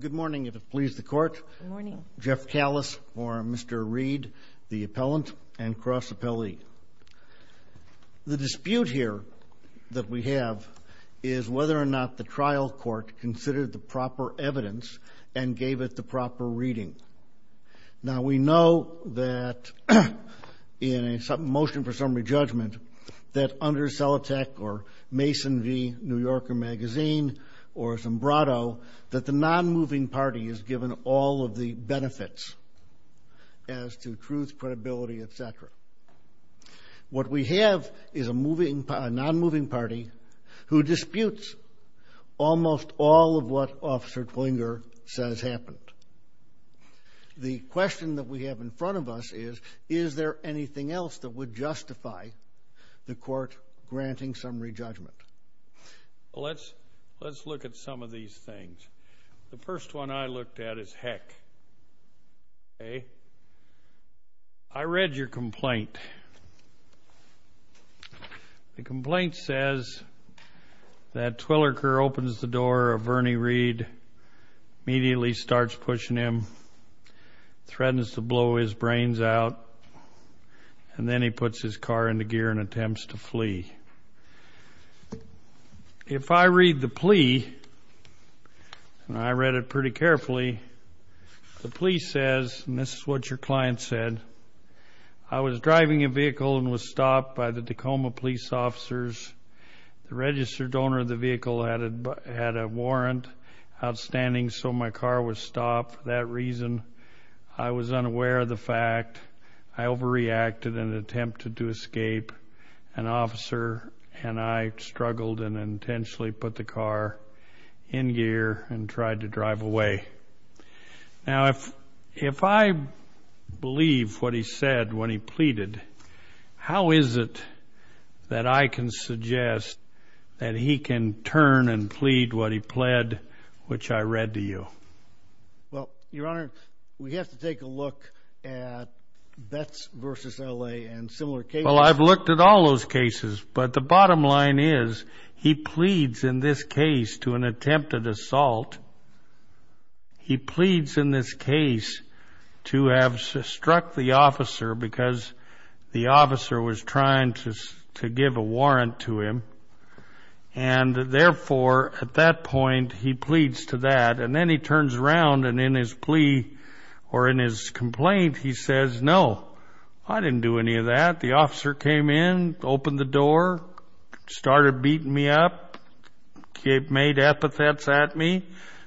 Good morning, if it pleases the court. Good morning. Jeff Callis for Mr. Reed, the appellant and cross appellee. The dispute here that we have is whether or not the trial court considered the proper evidence and gave it the proper reading. Now, we know that in a motion for summary judgment that under CELATEC or Mason v. New Yorker magazine or Sombrato that the non-moving party is given all of the benefits as to truth, credibility, et cetera. What we have is a non-moving party who disputes almost all of what Officer Twenger says happened. The question that we have in front of us is, is there anything else that would justify the court granting summary judgment? Well, let's look at some of these things. The first one I looked at is heck, okay? I read your complaint. The complaint says that Twilliker opens the door of Vernie Reed, immediately starts pushing him, threatens to blow his brains out, and then he puts his car into gear and attempts to flee. If I read the plea, and I read it pretty carefully, the plea says, and this is what your client said, I was driving a vehicle and was stopped by the Tacoma police officers. The registered owner of the vehicle had a warrant outstanding so my car was stopped. For that reason, I was unaware of the fact. I overreacted and attempted to escape. An officer and I struggled and intentionally put the car in gear and tried to drive away. Now, if I believe what he said when he pleaded, how is it that I can suggest that he can turn and plead what he pled, which I read to you? Well, Your Honor, we have to take a look at Betts v. L.A. and similar cases. Well, I've looked at all those cases, but the bottom line is he pleads in this case to an attempted assault. He pleads in this case to have struck the officer because the officer was trying to give a warrant to him, and therefore, at that point, he pleads to that, and then he turns around and in his plea or in his complaint, he says, No, I didn't do any of that. The officer came in, opened the door, started beating me up, made epithets at me,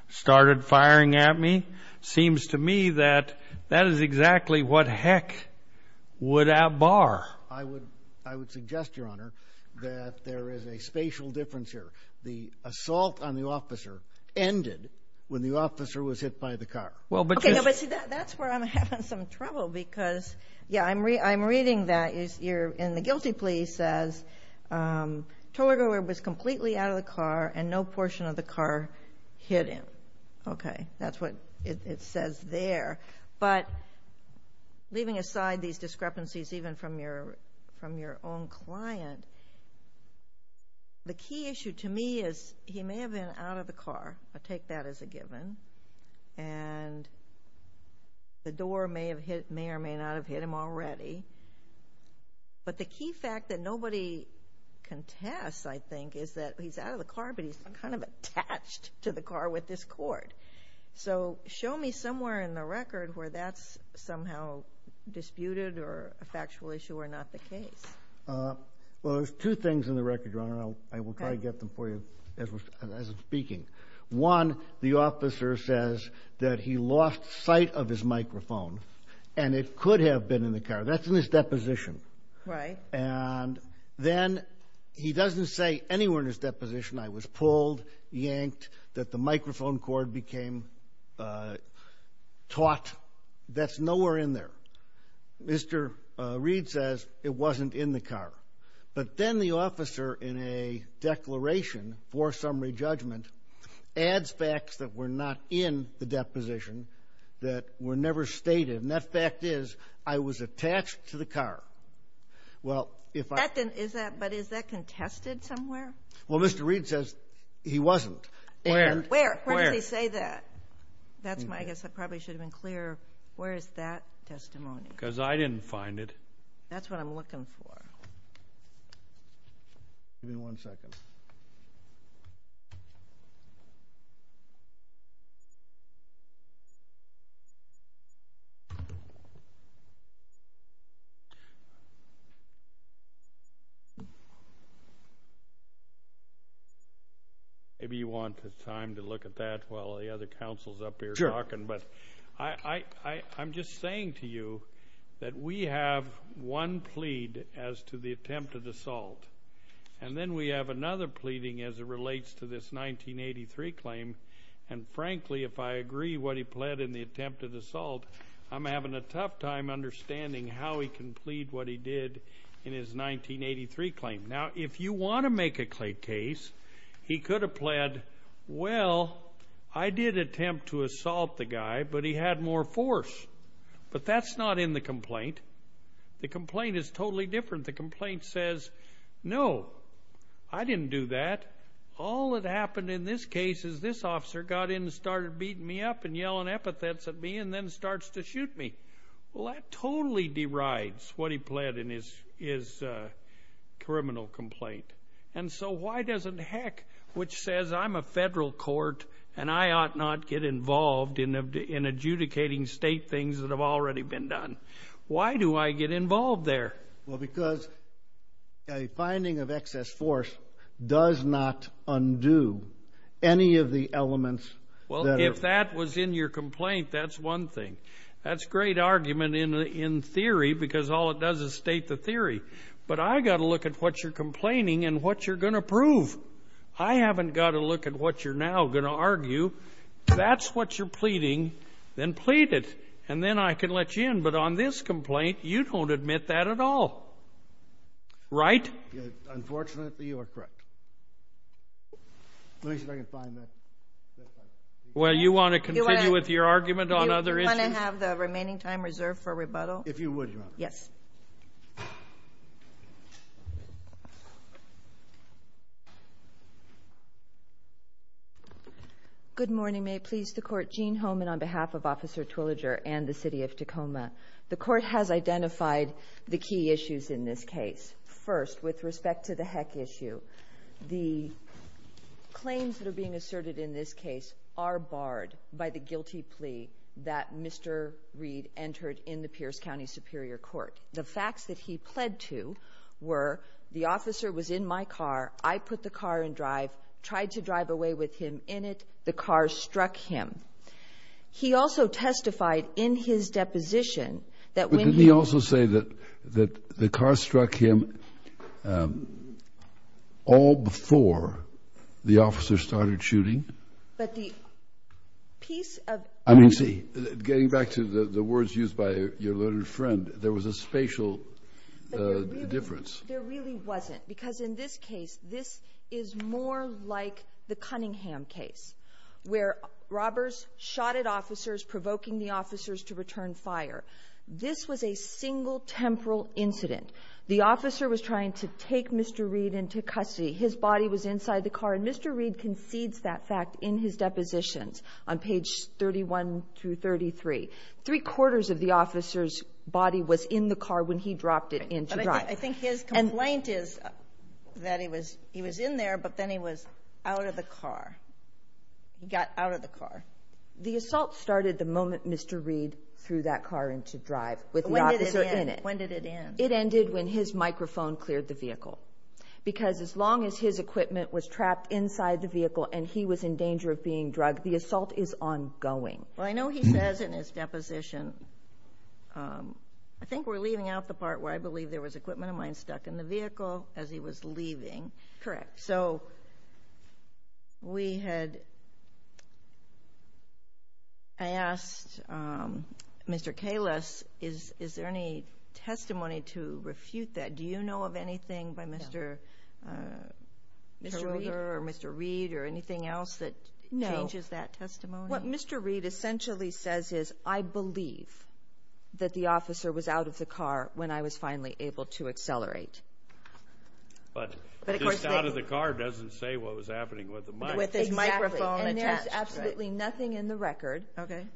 started firing at me. Seems to me that that is exactly what heck would outbar. I would suggest, Your Honor, that there is a spatial difference here. The assault on the officer ended when the officer was hit by the car. Okay, now, but see, that's where I'm having some trouble because, yeah, I'm reading that. You're in the guilty plea says, Toward where it was completely out of the car and no portion of the car hit him. Okay, that's what it says there. But leaving aside these discrepancies even from your own client, the key issue to me is he may have been out of the car. I take that as a given. And the door may or may not have hit him already, but the key fact that nobody contests, I think, is that he's out of the car, but he's kind of attached to the car with this cord. So show me somewhere in the record where that's somehow disputed or a factual issue or not the case. Well, there's two things in the record, Your Honor, and I will try to get them for you as I'm speaking. One, the officer says that he lost sight of his microphone, and it could have been in the car. That's in his deposition. Right. And then he doesn't say anywhere in his deposition I was pulled, yanked, that the microphone cord became taut. That's nowhere in there. Mr. Reed says it wasn't in the car. But then the officer, in a declaration for summary judgment, adds facts that were not in the deposition that were never stated. And that fact is I was attached to the car. But is that contested somewhere? Well, Mr. Reed says he wasn't. Where? Where does he say that? I guess I probably should have been clearer. Where is that testimony? Because I didn't find it. That's what I'm looking for. Give me one second. Maybe you want the time to look at that while the other counsel is up here talking. But I'm just saying to you that we have one plead as to the attempted assault. And then we have another pleading as it relates to this 1983 claim. And, frankly, if I agree what he pled in the attempted assault, I'm having a tough time understanding how he can plead what he did in his 1983 claim. Now, if you want to make a case, he could have pled, well, I did attempt to assault the guy, but he had more force. But that's not in the complaint. The complaint is totally different. The complaint says, no, I didn't do that. All that happened in this case is this officer got in and started beating me up and yelling epithets at me and then starts to shoot me. Well, that totally derides what he pled in his criminal complaint. And so why doesn't, heck, which says I'm a federal court and I ought not get involved in adjudicating state things that have already been done. Why do I get involved there? Well, because a finding of excess force does not undo any of the elements. Well, if that was in your complaint, that's one thing. That's a great argument in theory because all it does is state the theory. But I've got to look at what you're complaining and what you're going to prove. I haven't got to look at what you're now going to argue. If that's what you're pleading, then plead it, and then I can let you in. But on this complaint, you don't admit that at all, right? Unfortunately, you are correct. Let me see if I can find that. Well, you want to continue with your argument on other issues? Do you want to have the remaining time reserved for rebuttal? If you would, Your Honor. Yes. Good morning. May it please the Court. Jean Homan on behalf of Officer Twilliger and the City of Tacoma. The Court has identified the key issues in this case. First, with respect to the heck issue, the claims that are being asserted in this case are barred by the guilty plea that Mr. Reed entered in the Pierce County Superior Court. The facts that he pled to were the officer was in my car. I put the car in drive, tried to drive away with him in it. The car struck him. He also testified in his deposition that when he was ---- all before the officer started shooting. But the piece of---- I mean, see, getting back to the words used by your little friend, there was a spatial difference. There really wasn't because in this case, this is more like the Cunningham case where robbers shot at officers, provoking the officers to return fire. This was a single temporal incident. The officer was trying to take Mr. Reed into custody. His body was inside the car. And Mr. Reed concedes that fact in his depositions on page 31 through 33. Three-quarters of the officer's body was in the car when he dropped it into drive. But I think his complaint is that he was in there, but then he was out of the car. He got out of the car. The assault started the moment Mr. Reed threw that car into drive with the officer in it. When did it end? It ended when his microphone cleared the vehicle. Because as long as his equipment was trapped inside the vehicle and he was in danger of being drugged, the assault is ongoing. Well, I know he says in his deposition, I think we're leaving out the part where I believe there was equipment of mine stuck in the vehicle as he was leaving. Correct. So we had asked Mr. Kalis, is there any testimony to refute that? Do you know of anything by Mr. Roeder or Mr. Reed or anything else that changes that testimony? No. What Mr. Reed essentially says is, I believe that the officer was out of the car when I was finally able to accelerate. But just out of the car doesn't say what was happening with the mic. Exactly. And there's absolutely nothing in the record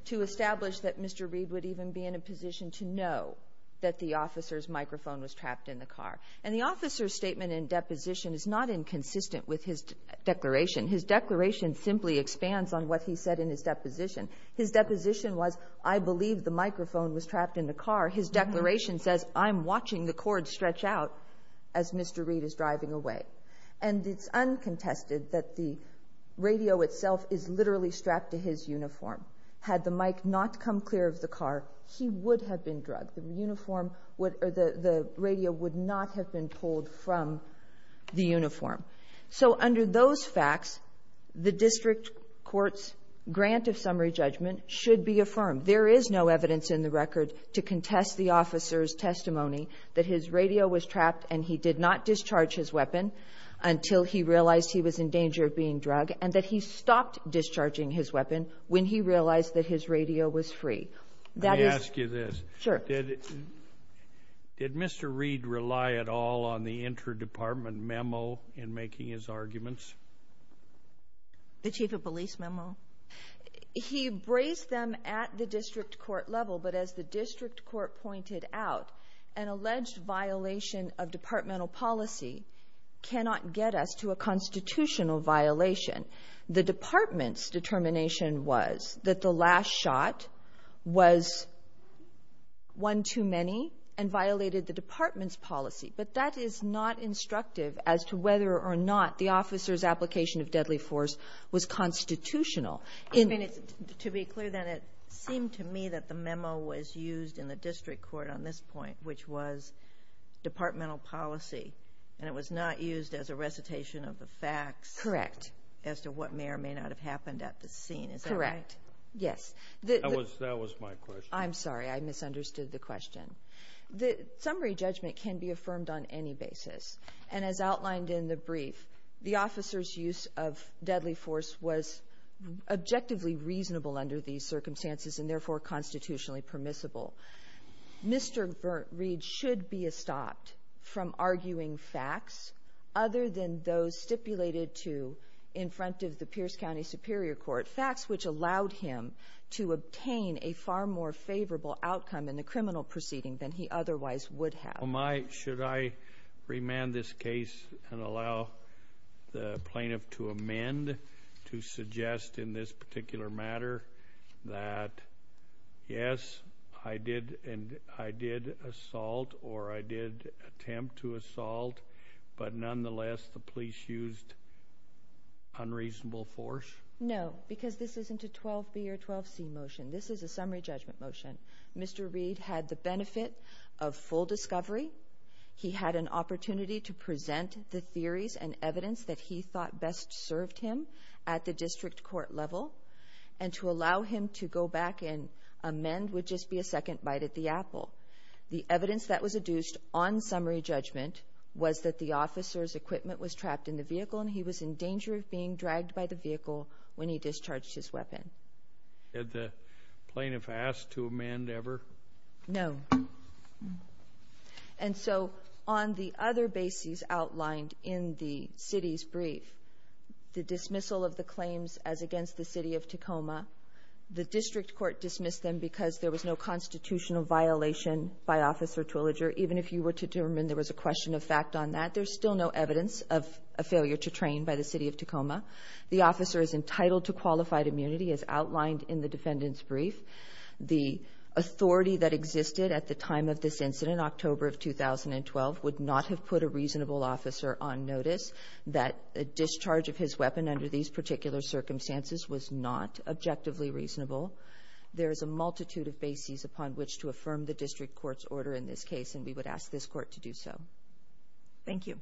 to establish that Mr. Reed would even be in a position to know that the officer's microphone was trapped in the car. And the officer's statement in deposition is not inconsistent with his declaration. His declaration simply expands on what he said in his deposition. His deposition was, I believe the microphone was trapped in the car. His declaration says, I'm watching the cord stretch out as Mr. Reed is driving away. And it's uncontested that the radio itself is literally strapped to his uniform. Had the mic not come clear of the car, he would have been drugged. The uniform would or the radio would not have been pulled from the uniform. So under those facts, the district court's grant of summary judgment should be affirmed. There is no evidence in the record to contest the officer's testimony that his radio was trapped and he did not discharge his weapon until he realized he was in danger of being drugged and that he stopped discharging his weapon when he realized that his radio was free. Let me ask you this. Sure. Did Mr. Reed rely at all on the interdepartment memo in making his arguments? The chief of police memo? He braced them at the district court level, but as the district court pointed out, an alleged violation of departmental policy cannot get us to a constitutional violation. The department's determination was that the last shot was one too many and violated the department's policy, but that is not instructive as to whether or not the officer's application of deadly force was constitutional. I mean, to be clear then, it seemed to me that the memo was used in the district court on this point, which was departmental policy, and it was not used as a recitation of the facts. Correct. As to what may or may not have happened at the scene. Is that right? Correct. Yes. That was my question. I'm sorry. I misunderstood the question. The summary judgment can be affirmed on any basis, and as outlined in the brief, the officer's use of deadly force was objectively reasonable under these circumstances and therefore constitutionally permissible. Mr. Reed should be estopped from arguing facts other than those stipulated to in front of the Pierce County Superior Court, but facts which allowed him to obtain a far more favorable outcome in the criminal proceeding than he otherwise would have. Should I remand this case and allow the plaintiff to amend to suggest in this particular matter that, yes, I did assault or I did attempt to assault, but nonetheless the police used unreasonable force? No, because this isn't a 12B or 12C motion. This is a summary judgment motion. Mr. Reed had the benefit of full discovery. He had an opportunity to present the theories and evidence that he thought best served him at the district court level, and to allow him to go back and amend would just be a second bite at the apple. The evidence that was adduced on summary judgment was that the officer's equipment was trapped in the vehicle and he was in danger of being dragged by the vehicle when he discharged his weapon. Had the plaintiff asked to amend ever? No. And so on the other bases outlined in the city's brief, the dismissal of the claims as against the City of Tacoma, the district court dismissed them because there was no constitutional violation by Officer Twilliger. Even if you were to determine there was a question of fact on that, there's still no evidence of a failure to train by the City of Tacoma. The officer is entitled to qualified immunity as outlined in the defendant's brief. The authority that existed at the time of this incident, October of 2012, would not have put a reasonable officer on notice that a discharge of his weapon under these particular circumstances was not objectively reasonable. There is a multitude of bases upon which to affirm the district court's order in this case, and we would ask this court to do so. Thank you.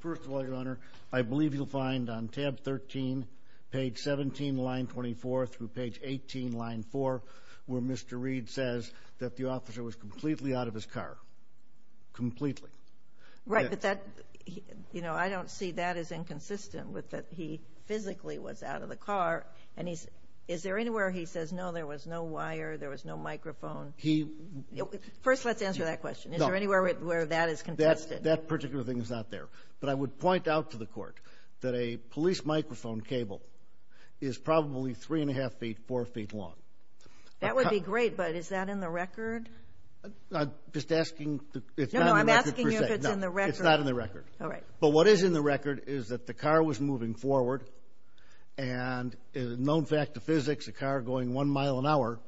First of all, Your Honor, I believe you'll find on tab 13, page 17, line 24, through page 18, line 4, where Mr. Reed says that the officer was completely out of his car. Completely. Right, but that, you know, I don't see that as inconsistent with that he physically was out of the car. And is there anywhere he says, no, there was no wire, there was no microphone? First, let's answer that question. Is there anywhere where that is contested? No. That particular thing is not there. But I would point out to the court that a police microphone cable is probably 3 1⁄2 feet, 4 feet long. I'm just asking. No, no, I'm asking if it's in the record. No, it's not in the record. All right. But what is in the record is that the car was moving forward, and a known fact of physics, a car going one mile an hour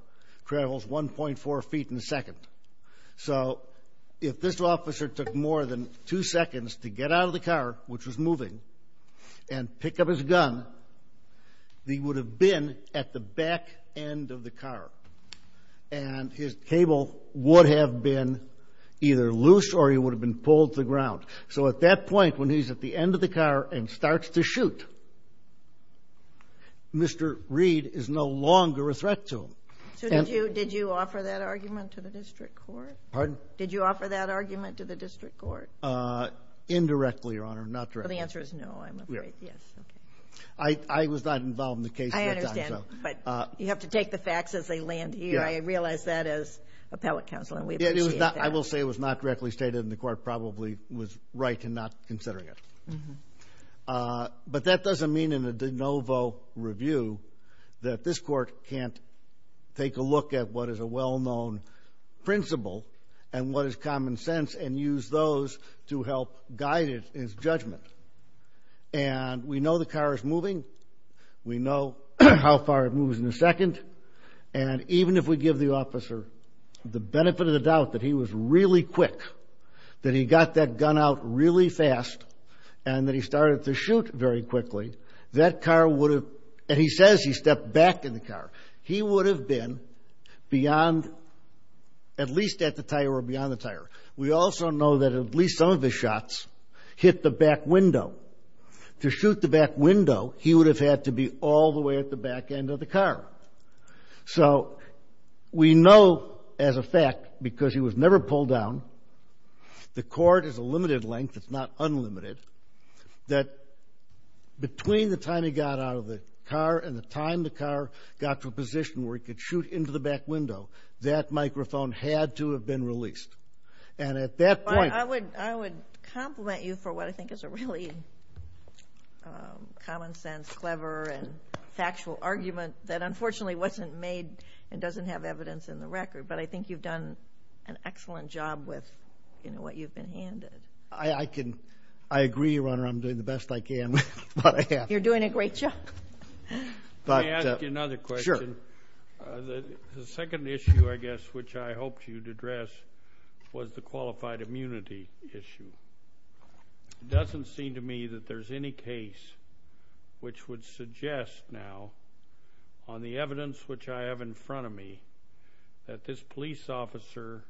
travels 1.4 feet in a second. So if this officer took more than two seconds to get out of the car, which was moving, and pick up his gun, he would have been at the back end of the car. And his cable would have been either loose or he would have been pulled to the ground. So at that point, when he's at the end of the car and starts to shoot, Mr. Reed is no longer a threat to him. So did you offer that argument to the district court? Pardon? Did you offer that argument to the district court? Indirectly, Your Honor, not directly. Well, the answer is no, I'm afraid. Yes. Okay. I was not involved in the case at that time. I understand. But you have to take the facts as they land here. I realize that as appellate counsel, and we appreciate that. I will say it was not directly stated, and the court probably was right in not considering it. But that doesn't mean in a de novo review that this court can't take a look at what is a well-known principle and what is common sense and use those to help guide his judgment. And we know the car is moving. We know how far it moves in a second. And even if we give the officer the benefit of the doubt that he was really quick, that he got that gun out really fast, and that he started to shoot very quickly, that car would have been, and he says he stepped back in the car, he would have been beyond, at least at the tire or beyond the tire. We also know that at least some of his shots hit the back window. To shoot the back window, he would have had to be all the way at the back end of the car. So we know as a fact, because he was never pulled down, the court is a limited length, it's not unlimited, that between the time he got out of the car and the time the car got to a position where he could shoot into the back window, that microphone had to have been released. And at that point ‑‑ I would compliment you for what I think is a really common sense, clever, and factual argument that unfortunately wasn't made and doesn't have evidence in the record. But I think you've done an excellent job with what you've been handed. I agree, Your Honor, I'm doing the best I can with what I have. You're doing a great job. Let me ask you another question. Sure. The second issue, I guess, which I hoped you'd address was the qualified immunity issue. It doesn't seem to me that there's any case which would suggest now on the evidence which I have in front of me that this police officer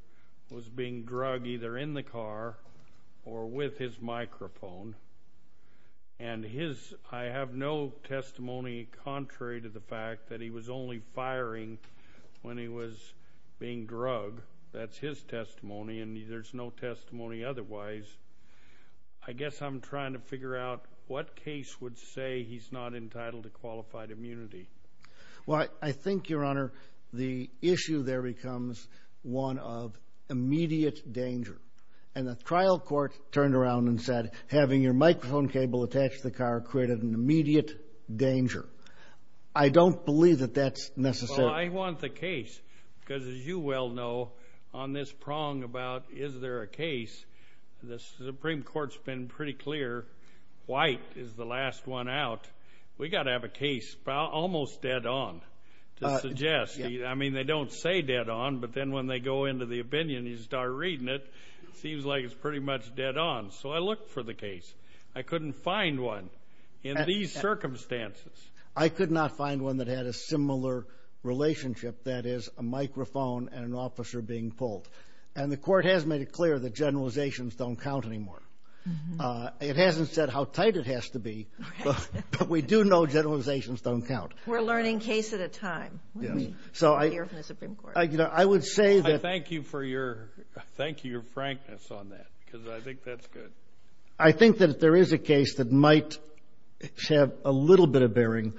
was being drug either in the car or with his microphone. And I have no testimony contrary to the fact that he was only firing when he was being drugged. That's his testimony, and there's no testimony otherwise. I guess I'm trying to figure out what case would say he's not entitled to qualified immunity. Well, I think, Your Honor, the issue there becomes one of immediate danger. And the trial court turned around and said, having your microphone cable attached to the car created an immediate danger. I don't believe that that's necessary. Well, I want the case because, as you well know, on this prong about is there a case, the Supreme Court's been pretty clear white is the last one out. We've got to have a case almost dead on to suggest. I mean, they don't say dead on, but then when they go into the opinion and you start reading it, it seems like it's pretty much dead on. So I looked for the case. I couldn't find one in these circumstances. I could not find one that had a similar relationship, that is, a microphone and an officer being pulled. And the court has made it clear that generalizations don't count anymore. It hasn't said how tight it has to be, but we do know generalizations don't count. We're learning case at a time. So I hear from the Supreme Court. I would say that. I thank you for your frankness on that because I think that's good. I think that if there is a case that might have a little bit of bearing,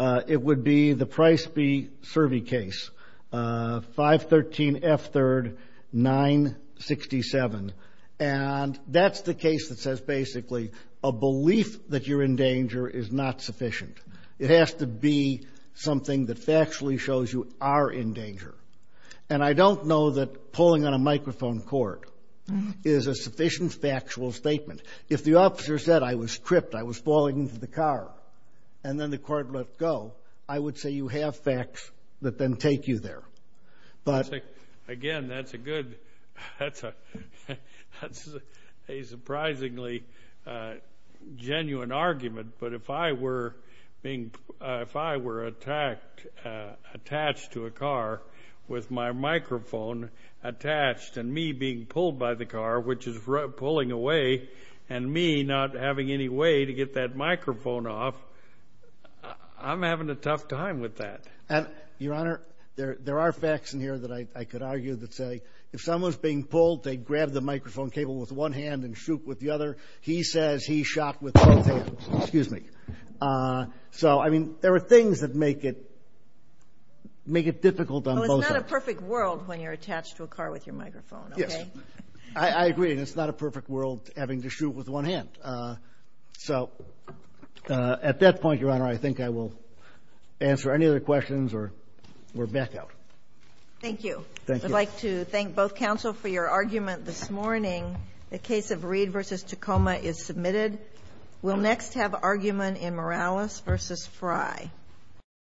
it would be the Price v. Cervi case, 513 F3rd 967. And that's the case that says basically a belief that you're in danger is not sufficient. It has to be something that factually shows you are in danger. And I don't know that pulling on a microphone cord is a sufficient factual statement. If the officer said, I was tripped, I was falling into the car, and then the court let go, I would say you have facts that then take you there. Again, that's a good, that's a surprisingly genuine argument. But if I were being, if I were attached to a car with my microphone attached and me being pulled by the car, which is pulling away, and me not having any way to get that microphone off, I'm having a tough time with that. And, Your Honor, there are facts in here that I could argue that say if someone's being pulled, they grab the microphone cable with one hand and shoot with the other. He says he shot with both hands. Excuse me. So, I mean, there are things that make it difficult on both sides. Well, it's not a perfect world when you're attached to a car with your microphone, okay? Yes. I agree. It's not a perfect world having to shoot with one hand. So, at that point, Your Honor, I think I will answer any other questions, or we're back out. Thank you. Thank you. I'd like to thank both counsel for your argument this morning. The case of Reed v. Tacoma is submitted. We'll next have argument in Morales v. Fry.